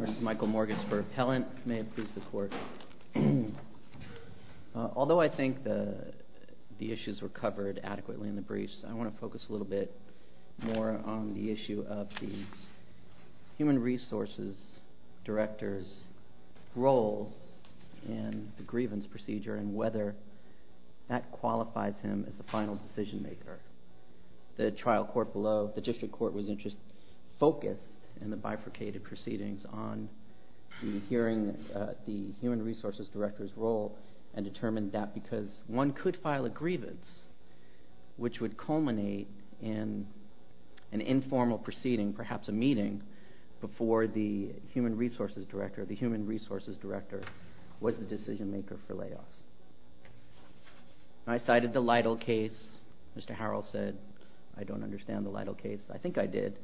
This is Michael Morges for Appellant. May it please the Court. Although I think the issues were covered adequately in the briefs, I want to focus a little bit more on the issue of the Human Resources Director's role in the grievance procedure and whether that qualifies him as the final decision maker. The trial court below, the district court, was focused in the bifurcated proceedings on hearing the Human Resources Director's role and determined that because one could file a grievance which would culminate in an informal proceeding, perhaps a meeting, before the Human Resources Director, the Human Resources Director, was the decision maker for layoffs. I cited the Lytle case. Mr. Harrell said I don't understand the Lytle case. I think I did.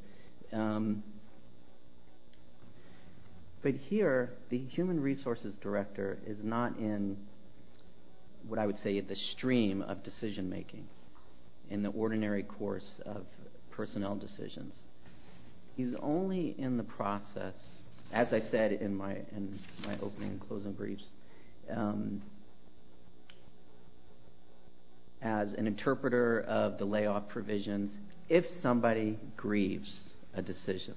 But here, the Human Resources Director is not in what I would say the stream of decision making in the ordinary course of personnel decisions. He's only in the process, as I said in my opening and closing briefs, as an interpreter of the layoff provisions if somebody grieves a decision.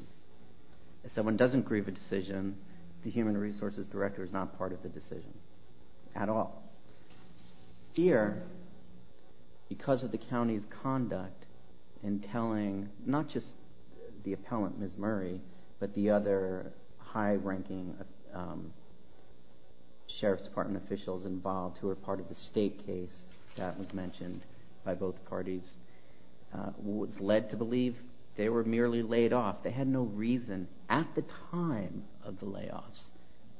If someone doesn't grieve a decision, the Human Resources Director is not part of the decision at all. Here, because of the county's conduct in telling not just the appellant, Ms. Murray, but the other high-ranking Sheriff's Department officials involved who were part of the state case that was mentioned by both parties, was led to believe they were merely laid off. They had no reason at the time of the layoffs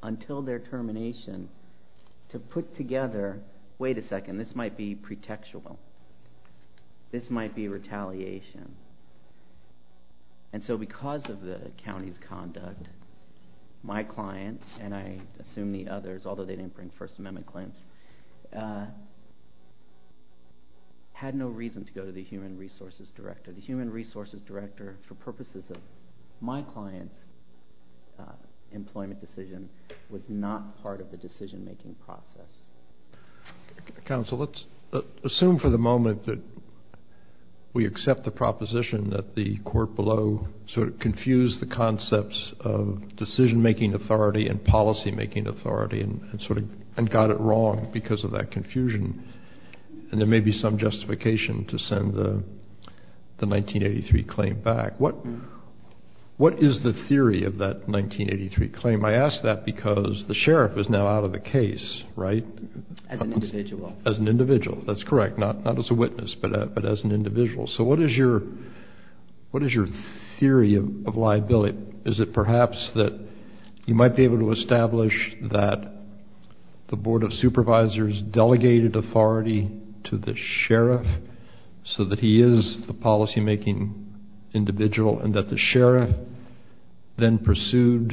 until their termination to put together, wait a second, this might be pretextual. This might be retaliation. And so because of the county's conduct, my client, and I assume the others, although they didn't bring First Amendment claims, had no reason to go to the Human Resources Director. The Human Resources Director, for purposes of my client's employment decision, was not part of the decision making process. Counsel, let's assume for the moment that we accept the proposition that the court below sort of confused the concepts of decision-making authority and policy-making authority and sort of got it wrong because of that confusion. And there may be some justification to send the 1983 claim back. What is the theory of that 1983 claim? I ask that because the Sheriff is now out of the case, right? As an individual. As an individual. That's correct. Not as a witness, but as an individual. So what is your theory of liability? Is it perhaps that you might be able to establish that the Board of Supervisors delegated authority to the Sheriff so that he is the policy-making individual and that the Sheriff then pursued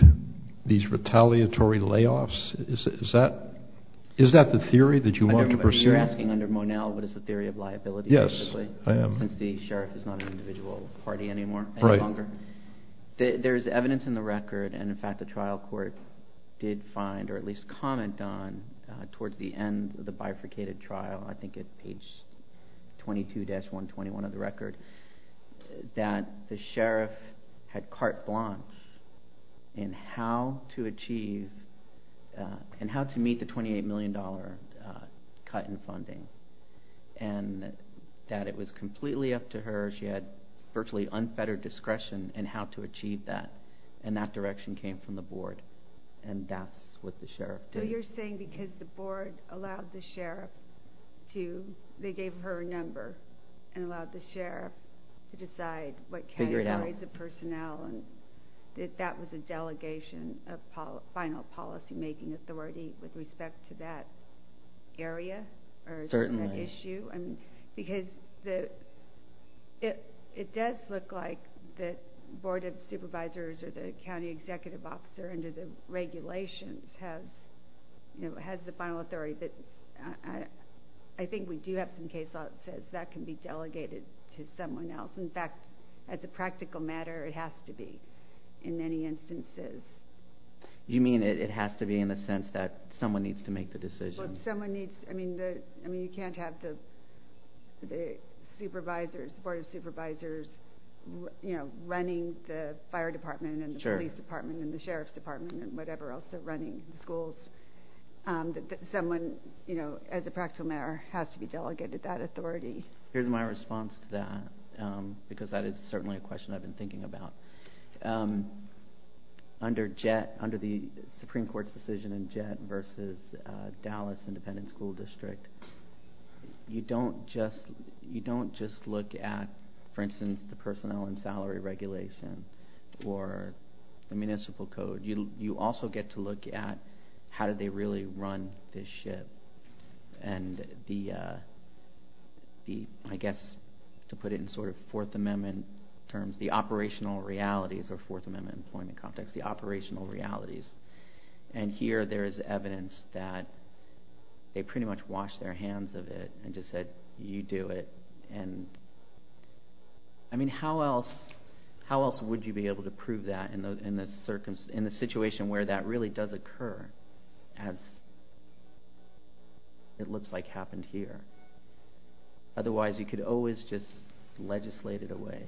these retaliatory layoffs? Is that the theory that you want to pursue? You're asking under Monell what is the theory of liability? Yes, I am. Since the Sheriff is not an individual party anymore any longer? Right. There is evidence in the record, and in fact the trial court did find or at least comment on towards the end of the bifurcated trial, I think at page 22-121 of the record, that the Sheriff had carte blanche in how to achieve and how to meet the $28 million cut in funding and that it was completely up to her. She had virtually unfettered discretion in how to achieve that, and that direction came from the Board, and that's what the Sheriff did. So you're saying because the Board allowed the Sheriff to, they gave her a number and allowed the Sheriff to decide what categories of personnel and that that was a delegation of final policy-making authority with respect to that area? Certainly. It does look like the Board of Supervisors or the County Executive Officer under the regulations has the final authority, but I think we do have some case law that says that can be delegated to someone else. In fact, as a practical matter, it has to be in many instances. You mean it has to be in the sense that someone needs to make the decision? I mean, you can't have the Board of Supervisors running the Fire Department and the Police Department and the Sheriff's Department and whatever else they're running the schools. Someone, as a practical matter, has to be delegated that authority. Here's my response to that, because that is certainly a question I've been thinking about. I think under the Supreme Court's decision in Jett versus Dallas Independent School District, you don't just look at, for instance, the personnel and salary regulation or the municipal code. You also get to look at how did they really run this ship and the, I guess to put it in sort of Fourth Amendment terms, the operational realities or Fourth Amendment employment context, the operational realities. Here, there is evidence that they pretty much washed their hands of it and just said, you do it. I mean, how else would you be able to prove that in the situation where that really does occur as it looks like happened here? Otherwise, you could always just legislate it away,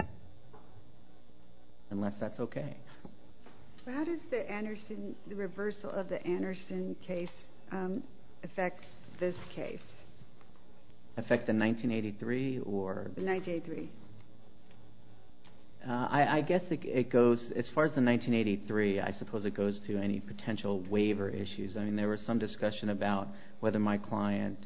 unless that's okay. How does the reversal of the Anderson case affect this case? Affect the 1983? The 1983. I guess it goes, as far as the 1983, I suppose it goes to any potential waiver issues. I mean, there was some discussion about whether my client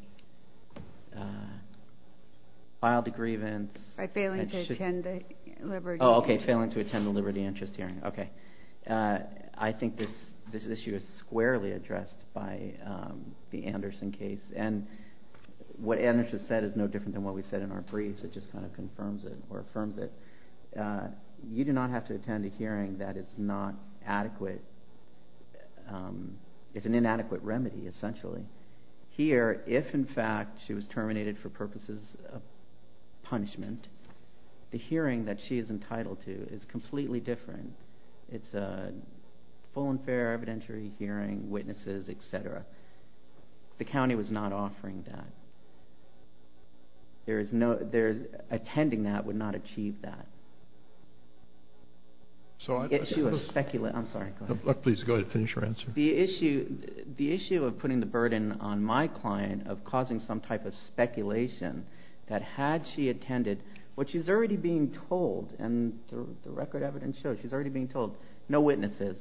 filed a grievance. By failing to attend the Liberty Interest Hearing. Okay. I think this issue is squarely addressed by the Anderson case. And what Anderson said is no different than what we said in our briefs. It just kind of confirms it or affirms it. You do not have to attend a hearing that is not adequate. It's an inadequate remedy, essentially. Here, if in fact she was terminated for purposes of punishment, the hearing that she is entitled to is completely different. It's a full and fair evidentiary hearing, witnesses, etc. The county was not offering that. Attending that would not achieve that. I'm sorry, go ahead. Please go ahead and finish your answer. The issue of putting the burden on my client of causing some type of speculation that had she attended, what she's already being told, and the record evidence shows she's already being told, no witnesses.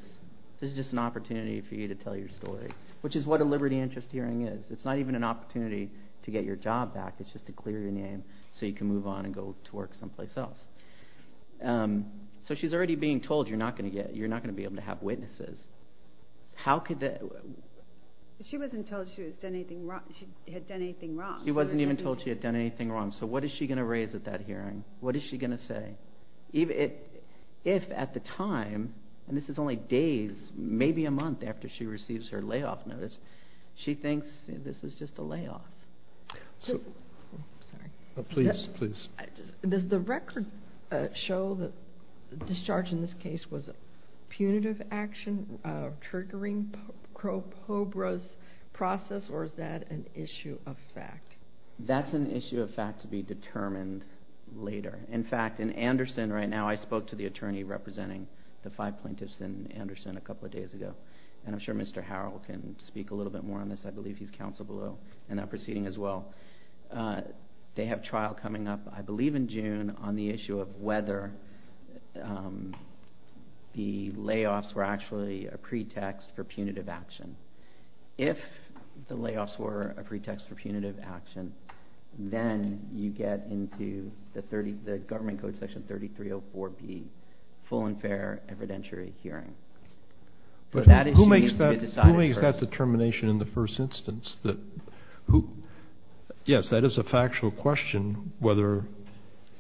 This is just an opportunity for you to tell your story. Which is what a Liberty Interest Hearing is. It's not even an opportunity to get your job back. It's just to clear your name so you can move on and go to work someplace else. So she's already being told you're not going to be able to have witnesses. She wasn't told she had done anything wrong. She wasn't even told she had done anything wrong. So what is she going to raise at that hearing? What is she going to say? If at the time, and this is only days, maybe a month after she receives her layoff notice, she thinks this is just a layoff. Does the record show that the discharge in this case was a punitive action, a triggering process, or is that an issue of fact? That's an issue of fact to be determined later. In fact, in Anderson right now, I spoke to the attorney representing the five plaintiffs in Anderson a couple of days ago. And I'm sure Mr. Harrell can speak a little bit more on this. I believe he's counsel below in that proceeding as well. They have trial coming up, I believe in June, on the issue of whether the layoffs were actually a pretext for punitive action. If the layoffs were a pretext for punitive action, then you get into the Government Code Section 3304B, full and fair evidentiary hearing. Who makes that determination in the first instance? Yes, that is a factual question, whether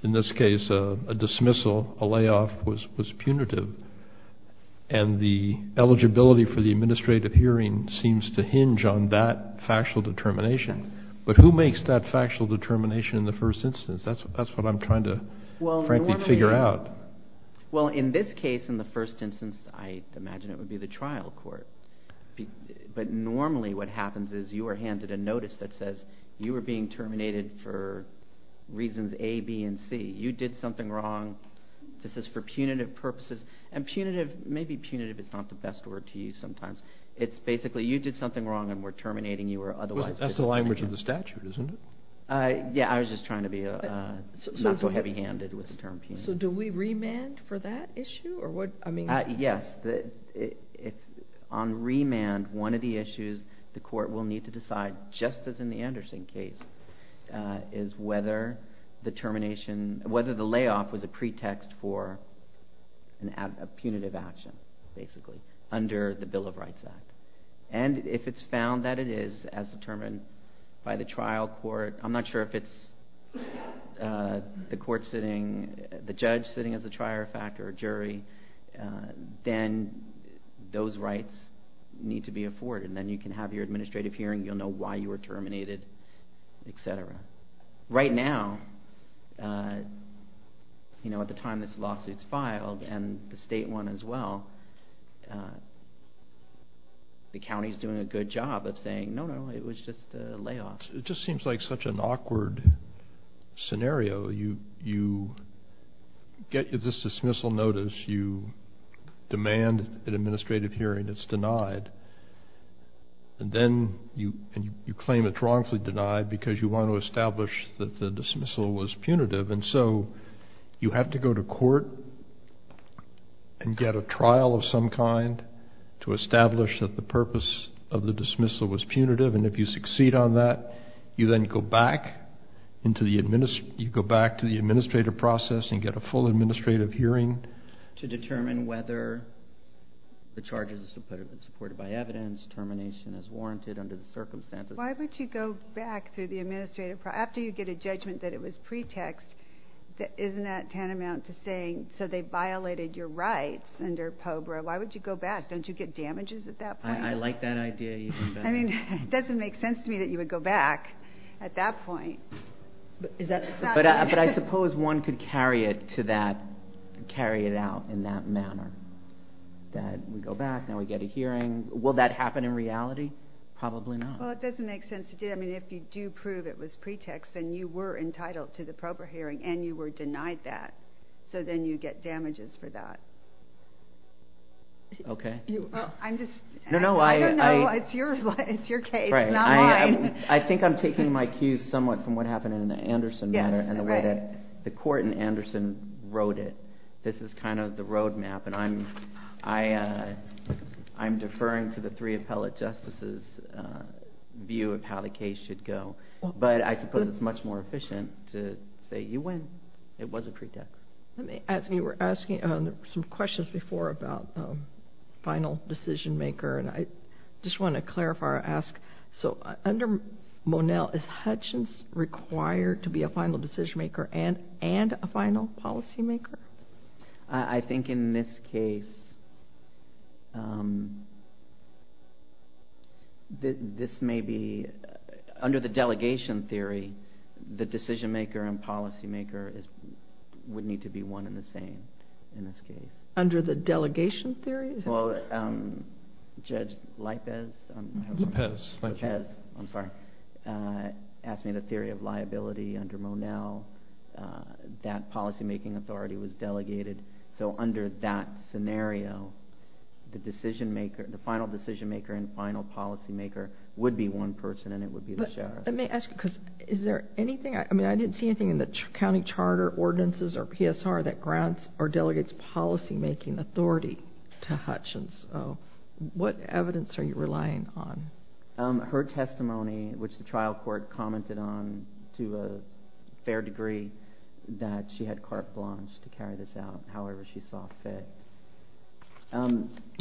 in this case a dismissal, a layoff was punitive. And the eligibility for the administrative hearing seems to hinge on that factual determination. But who makes that factual determination in the first instance? That's what I'm trying to frankly figure out. Well, in this case, in the first instance, I imagine it would be the trial court. But normally what happens is you are handed a notice that says you are being terminated for reasons A, B, and C. You did something wrong. This is for punitive purposes. And punitive, maybe punitive is not the best word to use sometimes. It's basically you did something wrong and we're terminating you or otherwise. That's the language of the statute, isn't it? Yeah, I was just trying to be not so heavy handed with the term punitive. So do we remand for that issue? Yes. On remand, one of the issues the court will need to decide, just as in the Anderson case, is whether the layoff was a pretext for a punitive action, basically, under the Bill of Rights Act. And if it's found that it is, as determined by the trial court, I'm not sure if it's the court sitting, the judge sitting as a trier of fact or a jury, then those rights need to be afforded. Then you can have your administrative hearing. You'll know why you were terminated, etc. Right now, at the time this lawsuit is filed, and the state one as well, the county is doing a good job of saying, no, no, it was just a layoff. It just seems like such an awkward scenario. You get this dismissal notice. You demand an administrative hearing. It's denied. And then you claim it's wrongfully denied because you want to establish that the dismissal was punitive. And so you have to go to court and get a trial of some kind to establish that the purpose of the dismissal was punitive. And if you succeed on that, you then go back to the administrative process and get a full administrative hearing to determine whether the charges have been supported by evidence, termination is warranted under the circumstances. Why would you go back through the administrative process after you get a judgment that it was pretext? Isn't that tantamount to saying, so they violated your rights under POBRA? Why would you go back? Don't you get damages at that point? I like that idea. I mean, it doesn't make sense to me that you would go back at that point. But I suppose one could carry it out in that manner. That we go back, now we get a hearing. Will that happen in reality? Probably not. Well, it doesn't make sense to do that. I mean, if you do prove it was pretext, then you were entitled to the POBRA hearing and you were denied that. So then you get damages for that. Okay. I don't know. It's your case, not mine. I think I'm taking my cues somewhat from what happened in the Anderson matter and the way that the court in Anderson wrote it. This is kind of the road map, and I'm deferring to the three appellate justices' view of how the case should go. But I suppose it's much more efficient to say you win. It was a pretext. As you were asking some questions before about final decision maker, and I just want to clarify or ask, so under Monell, is Hutchins required to be a final decision maker and a final policy maker? I think in this case, this may be, under the delegation theory, the decision maker and policy maker would need to be one and the same in this case. Under the delegation theory? Well, Judge Lopez asked me the theory of liability under Monell. That policymaking authority was delegated. So under that scenario, the final decision maker and final policy maker would be one person, and it would be the sheriff. I didn't see anything in the county charter ordinances or PSR that grants or delegates policymaking authority to Hutchins. What evidence are you relying on? Her testimony, which the trial court commented on to a fair degree, that she had carte blanche to carry this out however she saw fit.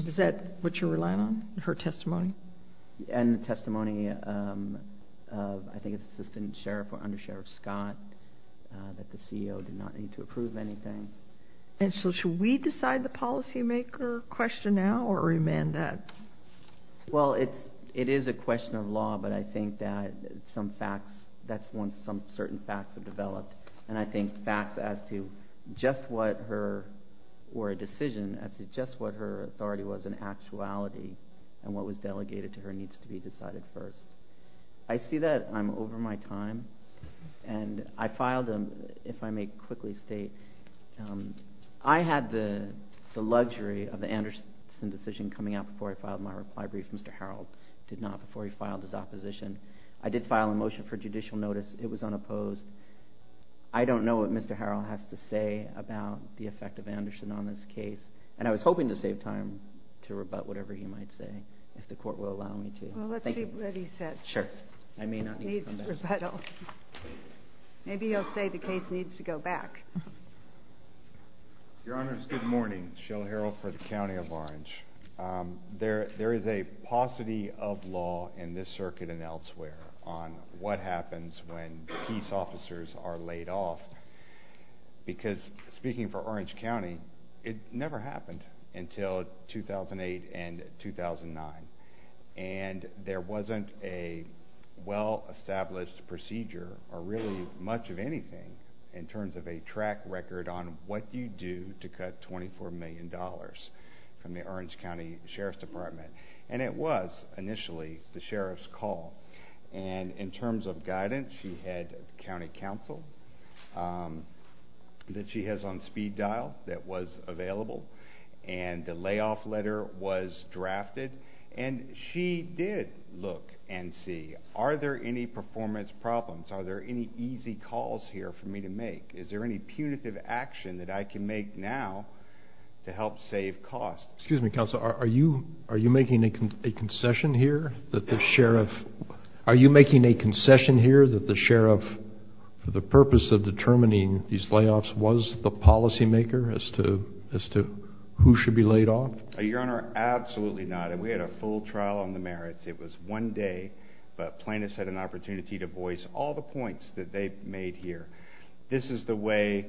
Is that what you're relying on, her testimony? And the testimony of, I think, Assistant Sheriff or Under Sheriff Scott, that the CEO did not need to approve anything. And so should we decide the policymaker question now or remand that? Well, it is a question of law, but I think that some facts, that's once some certain facts have developed, and I think facts as to just what her, or a decision as to just what her authority was in actuality and what was delegated to her needs to be decided first. I see that I'm over my time, and I filed a, if I may quickly state, I had the luxury of the Anderson decision coming out before I filed my reply brief. Mr. Harreld did not before he filed his opposition. I did file a motion for judicial notice. It was unopposed. I don't know what Mr. Harreld has to say about the effect of Anderson on this case. And I was hoping to save time to rebut whatever he might say, if the court will allow me to. Well, let's keep ready set. Sure. I may not need to come back. Needs rebuttal. Maybe he'll say the case needs to go back. Your Honors, good morning. Shel Harreld for the County of Orange. There is a paucity of law in this circuit and elsewhere on what happens when peace officers are laid off. Because speaking for Orange County, it never happened until 2008 and 2009. And there wasn't a well-established procedure or really much of anything in terms of a track record on what you do to cut $24 million from the Orange County Sheriff's Department. And it was initially the sheriff's call. And in terms of guidance, she had county counsel that she has on speed dial that was available. And the layoff letter was drafted. And she did look and see, are there any performance problems? Are there any easy calls here for me to make? Is there any punitive action that I can make now to help save costs? Excuse me, counsel. Are you making a concession here that the sheriff, for the purpose of determining these layoffs, was the policymaker as to who should be laid off? Your Honor, absolutely not. And we had a full trial on the merits. It was one day. But plaintiffs had an opportunity to voice all the points that they made here. This is the way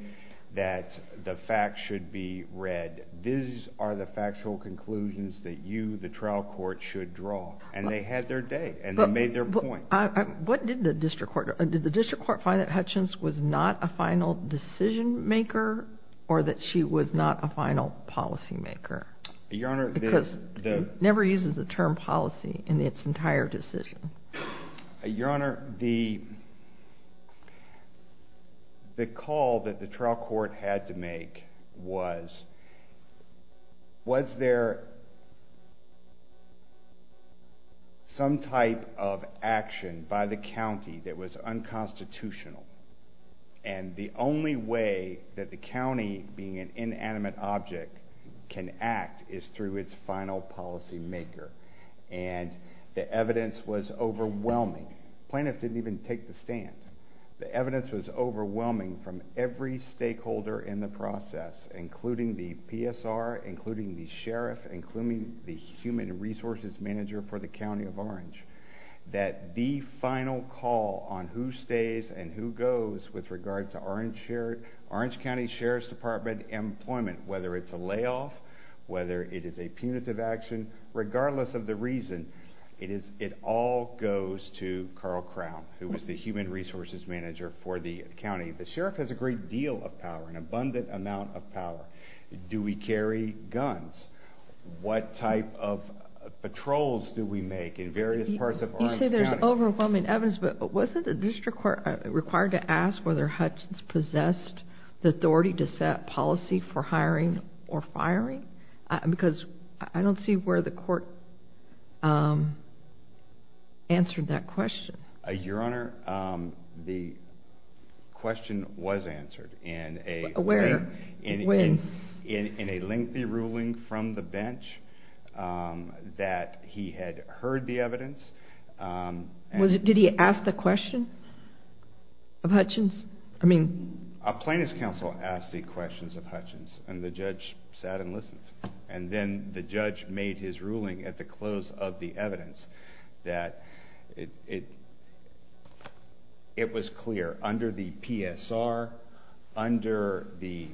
that the facts should be read. These are the factual conclusions that you, the trial court, should draw. And they had their day. And they made their point. What did the district court do? Did the district court find that Hutchins was not a final decision maker or that she was not a final policymaker? Your Honor, the— Because it never uses the term policy in its entire decision. Your Honor, the call that the trial court had to make was, was there some type of action by the county that was unconstitutional? And the only way that the county, being an inanimate object, can act is through its final policymaker. And the evidence was overwhelming. The plaintiff didn't even take the stand. The evidence was overwhelming from every stakeholder in the process, including the PSR, including the sheriff, including the human resources manager for the county of Orange, that the final call on who stays and who goes with regard to Orange County Sheriff's Department employment, whether it's a layoff, whether it is a punitive action, regardless of the reason, it all goes to Carl Crown, who is the human resources manager for the county. The sheriff has a great deal of power, an abundant amount of power. Do we carry guns? What type of patrols do we make in various parts of Orange County? I would say there's overwhelming evidence, but wasn't the district court required to ask whether Hutchins possessed the authority to set policy for hiring or firing? Because I don't see where the court answered that question. Your Honor, the question was answered. Where? When? In a lengthy ruling from the bench that he had heard the evidence. Did he ask the question of Hutchins? A plaintiff's counsel asked the questions of Hutchins, and the judge sat and listened. And then the judge made his ruling at the close of the evidence that it was clear under the PSR, under the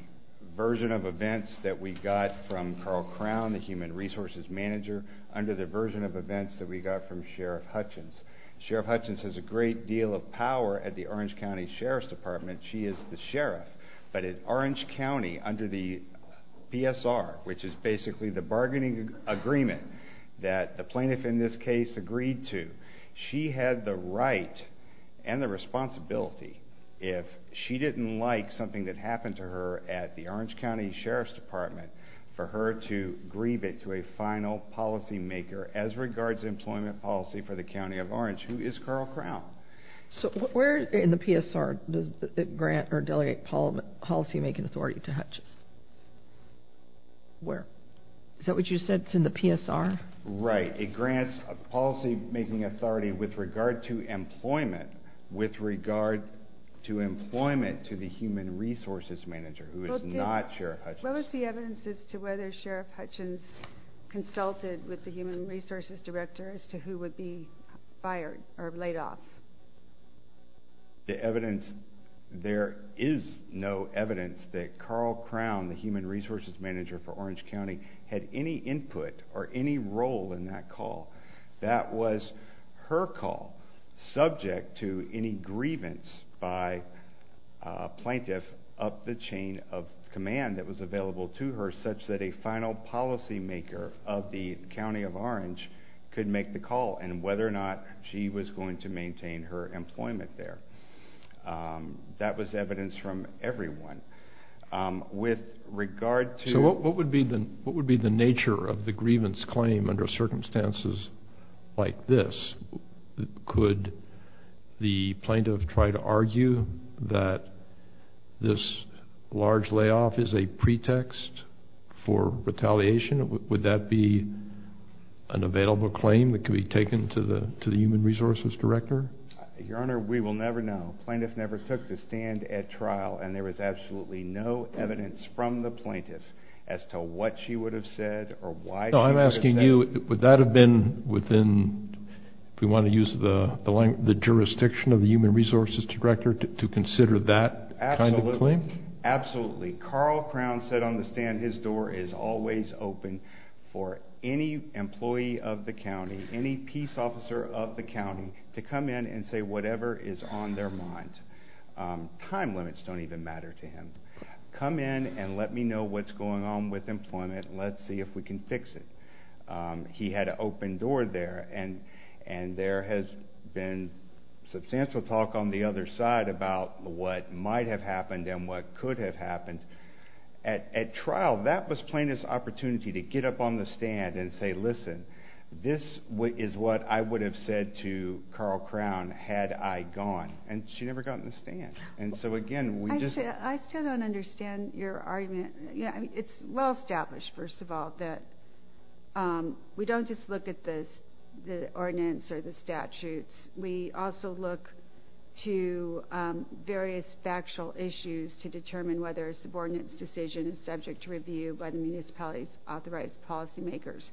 version of events that we got from Carl Crown, the human resources manager, under the version of events that we got from Sheriff Hutchins. Sheriff Hutchins has a great deal of power at the Orange County Sheriff's Department. She is the sheriff. But at Orange County, under the PSR, which is basically the bargaining agreement that the plaintiff in this case agreed to, she had the right and the responsibility if she didn't like something that happened to her at the Orange County Sheriff's Department for her to grieve it to a final policymaker as regards employment policy for the County of Orange, who is Carl Crown. So where in the PSR does it grant or delegate policymaking authority to Hutchins? Where? Is that what you said? It's in the PSR? Right. It grants policymaking authority with regard to employment with regard to employment to the human resources manager, who is not Sheriff Hutchins. What was the evidence as to whether Sheriff Hutchins consulted with the human resources director as to who would be fired or laid off? The evidence, there is no evidence that Carl Crown, the human resources manager for Orange County, had any input or any role in that call. That was her call, subject to any grievance by a plaintiff up the chain of command that was available to her such that a final policymaker of the County of Orange could make the call and whether or not she was going to maintain her employment there. That was evidence from everyone. So what would be the nature of the grievance claim under circumstances like this? Could the plaintiff try to argue that this large layoff is a pretext for retaliation? Would that be an available claim that could be taken to the human resources director? Your Honor, we will never know. The plaintiff never took the stand at trial, and there is absolutely no evidence from the plaintiff as to what she would have said or why she would have said it. I'm asking you, would that have been within, if we want to use the jurisdiction of the human resources director, to consider that kind of claim? Absolutely. Carl Crown said on the stand his door is always open for any employee of the county, any peace officer of the county, to come in and say whatever is on their mind. Time limits don't even matter to him. Come in and let me know what's going on with employment, and let's see if we can fix it. He had an open door there, and there has been substantial talk on the other side about what might have happened and what could have happened. At trial, that was plaintiff's opportunity to get up on the stand and say, listen, this is what I would have said to Carl Crown had I gone, and she never got on the stand. I still don't understand your argument. It's well established, first of all, that we don't just look at the ordinance or the statutes. We also look to various factual issues to determine whether a subordinates decision is subject to review by the municipality's authorized policy makers.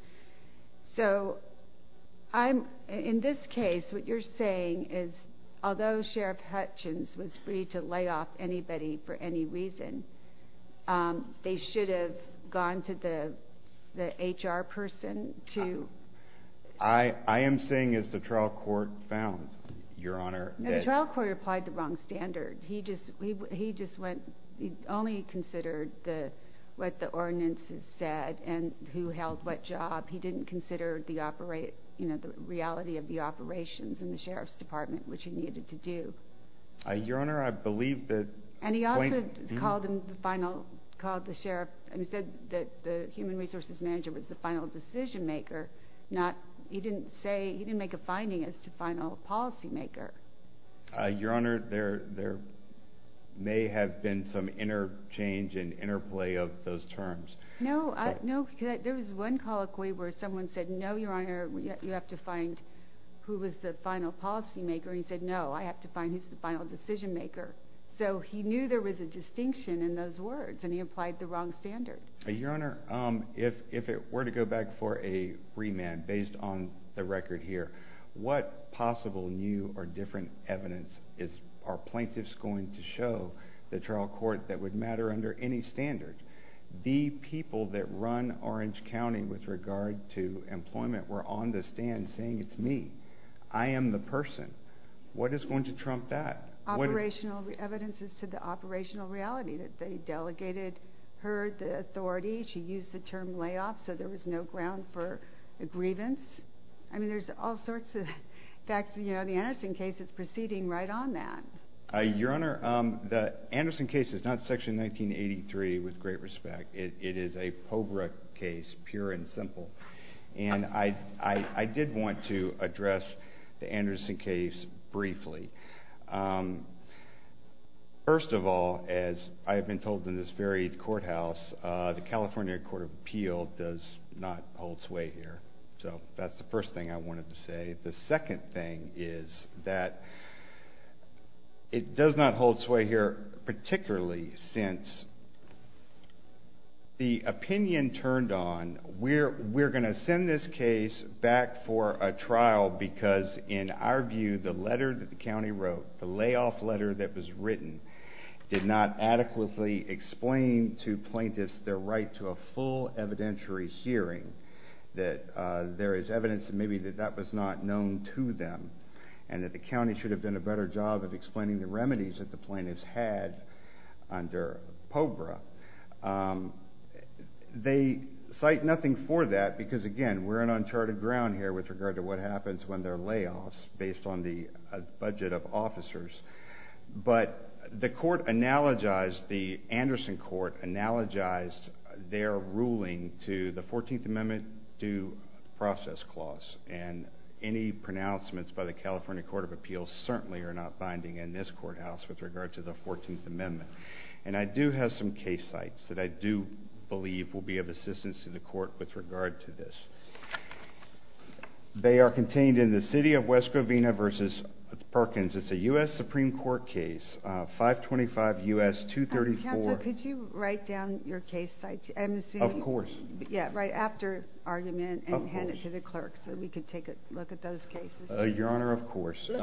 So in this case, what you're saying is although Sheriff Hutchins was free to lay off anybody for any reason, they should have gone to the HR person to. I am saying as the trial court found, Your Honor. The trial court applied the wrong standard. He only considered what the ordinances said and who held what job. He didn't consider the reality of the operations in the sheriff's department, which he needed to do. Your Honor, I believe that. And he also called the sheriff and said that the human resources manager was the final decision maker. He didn't make a finding as to final policy maker. Your Honor, there may have been some interchange and interplay of those terms. No. There was one colloquy where someone said, no, Your Honor, you have to find who was the final policy maker. He said, no, I have to find who's the final decision maker. So he knew there was a distinction in those words, and he applied the wrong standard. Your Honor, if it were to go back for a remand based on the record here, what possible new or different evidence are plaintiffs going to show the trial court that would matter under any standard? The people that run Orange County with regard to employment were on the stand saying it's me. I am the person. What is going to trump that? Operational evidence is to the operational reality that they delegated her the authority. She used the term layoff, so there was no ground for a grievance. I mean, there's all sorts of facts. You know, the Anderson case is proceeding right on that. Your Honor, the Anderson case is not Section 1983 with great respect. It is a POBRA case, pure and simple. And I did want to address the Anderson case briefly. First of all, as I have been told in this very courthouse, the California Court of Appeal does not hold sway here. So that's the first thing I wanted to say. The second thing is that it does not hold sway here, particularly since the opinion turned on, we're going to send this case back for a trial because, in our view, the letter that the county wrote, the layoff letter that was written, did not adequately explain to plaintiffs their right to a full evidentiary hearing, that there is evidence that maybe that that was not known to them, and that the county should have done a better job of explaining the remedies that the plaintiffs had under POBRA. They cite nothing for that because, again, we're on uncharted ground here with regard to what happens when there are layoffs, based on the budget of officers. But the Anderson court analogized their ruling to the 14th Amendment due process clause, and any pronouncements by the California Court of Appeal certainly are not binding in this courthouse with regard to the 14th Amendment. And I do have some case sites that I do believe will be of assistance to the court with regard to this. They are contained in the City of West Covina v. Perkins. It's a U.S. Supreme Court case, 525 U.S. 234. Counsel, could you write down your case site? Of course. Yeah, right after argument and hand it to the clerk so we can take a look at those cases. Your Honor, of course. This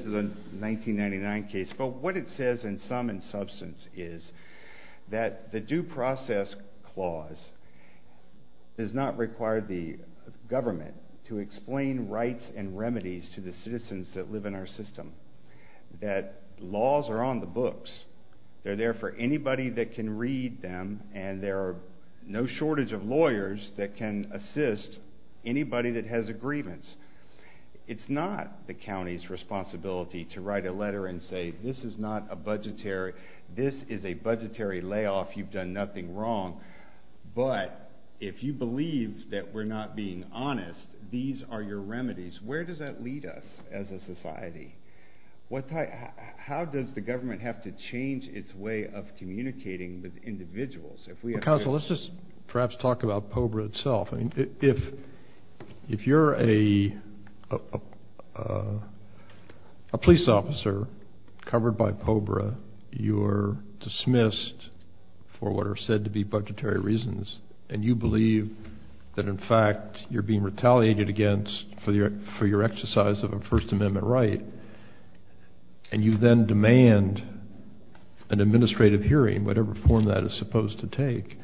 is a 1999 case. But what it says in sum and substance is that the due process clause does not require the government to explain rights and remedies to the citizens that live in our system. That laws are on the books. They're there for anybody that can read them, and there are no shortage of lawyers that can assist anybody that has a grievance. It's not the county's responsibility to write a letter and say this is not a budgetary, this is a budgetary layoff. You've done nothing wrong. But if you believe that we're not being honest, these are your remedies. Where does that lead us as a society? How does the government have to change its way of communicating with individuals? Counsel, let's just perhaps talk about POBRA itself. If you're a police officer covered by POBRA, you are dismissed for what are said to be budgetary reasons, and you believe that, in fact, you're being retaliated against for your exercise of a First Amendment right, and you then demand an administrative hearing, whatever form that is supposed to take,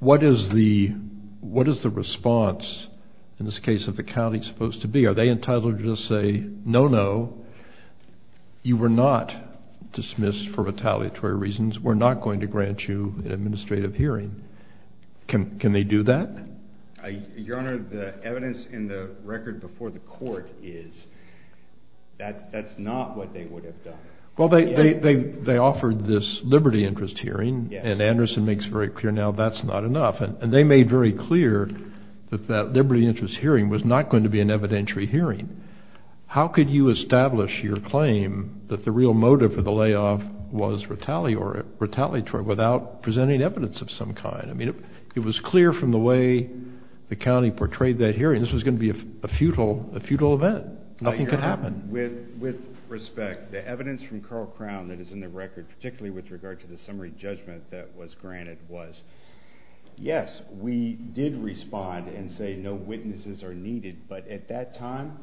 what is the response in this case of the county supposed to be? Are they entitled to just say, no, no, you were not dismissed for retaliatory reasons. We're not going to grant you an administrative hearing. Can they do that? Your Honor, the evidence in the record before the court is that that's not what they would have done. Well, they offered this liberty interest hearing, and Anderson makes it very clear now that's not enough. And they made very clear that that liberty interest hearing was not going to be an evidentiary hearing. How could you establish your claim that the real motive for the layoff was retaliatory without presenting evidence of some kind? I mean, it was clear from the way the county portrayed that hearing this was going to be a futile event. Nothing could happen. Your Honor, with respect, the evidence from Carl Crown that is in the record, particularly with regard to the summary judgment that was granted was, yes, we did respond and say no witnesses are needed, but at that time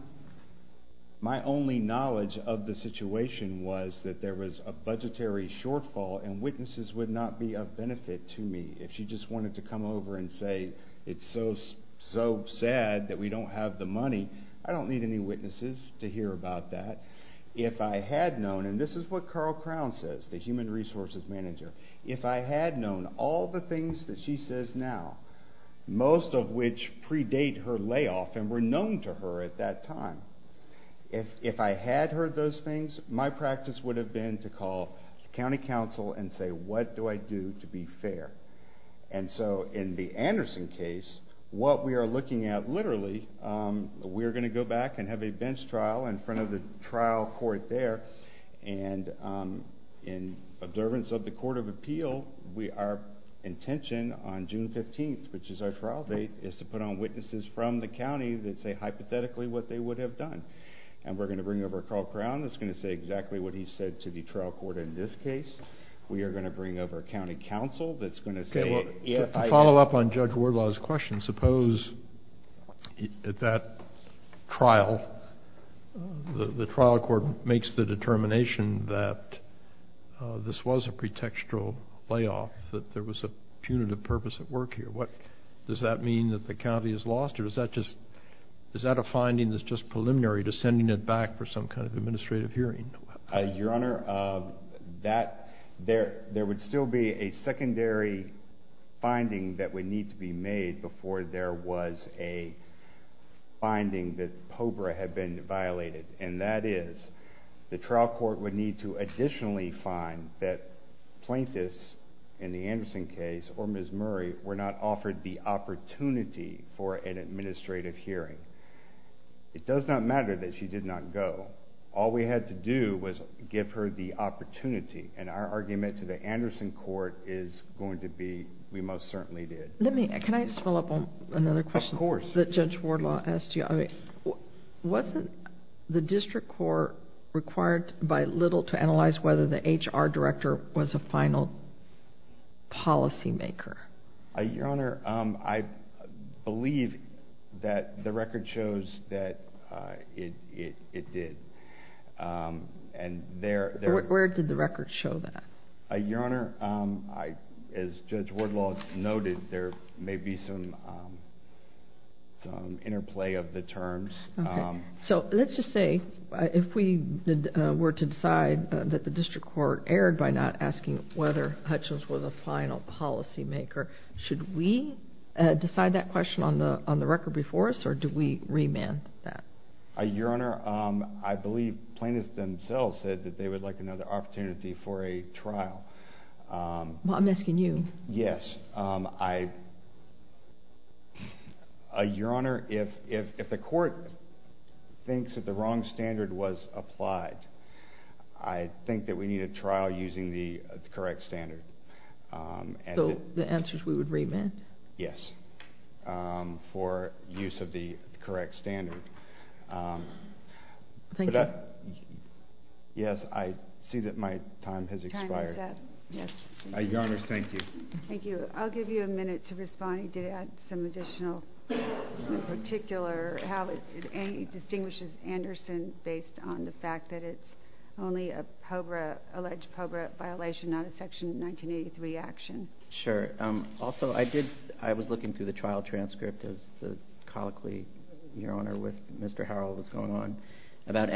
my only knowledge of the situation was that there was a budgetary shortfall and witnesses would not be of benefit to me. If she just wanted to come over and say it's so sad that we don't have the money, I don't need any witnesses to hear about that. If I had known, and this is what Carl Crown says, the human resources manager, if I had known all the things that she says now, most of which predate her layoff and were known to her at that time, if I had heard those things, my practice would have been to call the county council and say what do I do to be fair? And so in the Anderson case, what we are looking at literally, we are going to go back and have a bench trial in front of the trial court there, and in observance of the Court of Appeal, our intention on June 15th, which is our trial date, is to put on witnesses from the county that say hypothetically what they would have done. And we're going to bring over Carl Crown that's going to say exactly what he said to the trial court in this case. We are going to bring over a county council that's going to say – To follow up on Judge Wardlaw's question, suppose at that trial the trial court makes the determination that this was a pretextual layoff, that there was a punitive purpose at work here. Does that mean that the county is lost, or is that a finding that's just preliminary to sending it back for some kind of administrative hearing? Your Honor, there would still be a secondary finding that would need to be made before there was a finding that POBRA had been violated, and that is the trial court would need to additionally find that plaintiffs, in the Anderson case or Ms. Murray, were not offered the opportunity for an administrative hearing. It does not matter that she did not go. All we had to do was give her the opportunity, and our argument to the Anderson court is going to be we most certainly did. Let me – can I just follow up on another question? Of course. The question that Judge Wardlaw asked you, wasn't the district court required by little to analyze whether the HR director was a final policymaker? Your Honor, I believe that the record shows that it did. Where did the record show that? Your Honor, as Judge Wardlaw noted, there may be some interplay of the terms. Let's just say, if we were to decide that the district court erred by not asking whether Hutchins was a final policymaker, should we decide that question on the record before us, or do we remand that? Your Honor, I believe plaintiffs themselves said that they would like another opportunity for a trial. I'm asking you. Yes. Your Honor, if the court thinks that the wrong standard was applied, I think that we need a trial using the correct standard. So the answer is we would remand? Yes, for use of the correct standard. Thank you. Yes, I see that my time has expired. Your Honor, thank you. Thank you. I'll give you a minute to respond. You did add some additional, in particular, how it distinguishes Anderson based on the fact that it's only an alleged POBRA violation, not a Section 1983 action. Sure. Also, I was looking through the trial transcript, as the colloquy, Your Honor, with Mr. Harrell was going on, about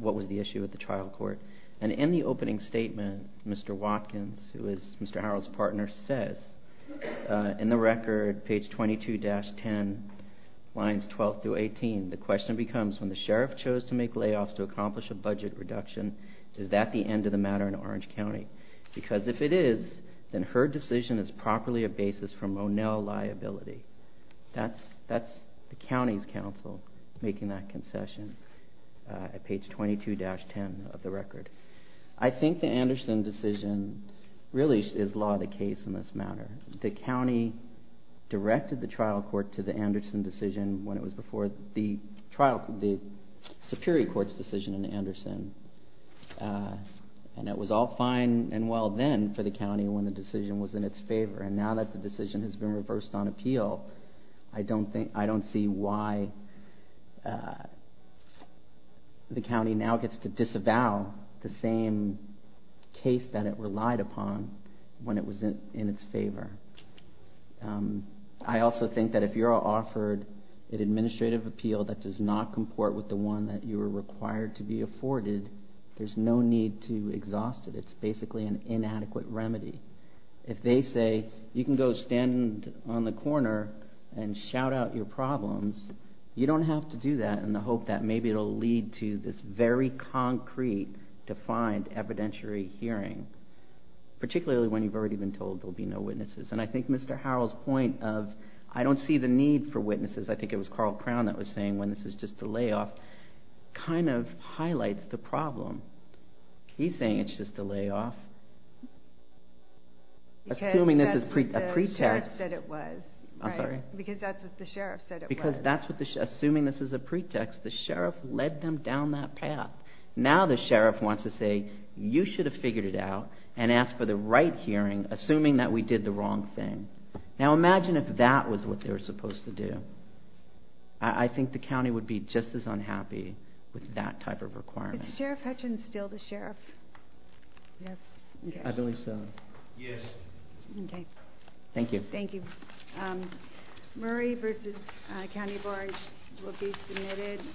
what was the issue with the trial court. And in the opening statement, Mr. Watkins, who is Mr. Harrell's partner, says, in the record, page 22-10, lines 12 through 18, the question becomes, when the sheriff chose to make layoffs to accomplish a budget reduction, is that the end of the matter in Orange County? Because if it is, then her decision is properly a basis for Monell liability. That's the county's counsel making that concession at page 22-10 of the record. I think the Anderson decision really is law of the case in this matter. The county directed the trial court to the Anderson decision when it was before the Superior Court's decision in Anderson. And it was all fine and well then for the county when the decision was in its favor. And now that the decision has been reversed on appeal, I don't see why the county now gets to disavow the same case that it relied upon when it was in its favor. I also think that if you're offered an administrative appeal that does not comport with the one that you were required to be afforded, there's no need to exhaust it. It's basically an inadequate remedy. If they say, you can go stand on the corner and shout out your problems, you don't have to do that in the hope that maybe it will lead to this very concrete, defined, evidentiary hearing, particularly when you've already been told there will be no witnesses. And I think Mr. Harrell's point of, I don't see the need for witnesses, I think it was Carl Crown that was saying when this is just a layoff, kind of highlights the problem. He's saying it's just a layoff. Assuming this is a pretext. Because that's what the sheriff said it was. Because that's what the sheriff said it was. Assuming this is a pretext, the sheriff led them down that path. Now the sheriff wants to say, you should have figured it out and asked for the right hearing, assuming that we did the wrong thing. Now imagine if that was what they were supposed to do. I think the county would be just as unhappy with that type of requirement. Is Sheriff Hutchins still the sheriff? Yes. I believe so. Yes. Okay. Thank you. Thank you. Murray v. County Board will be submitted.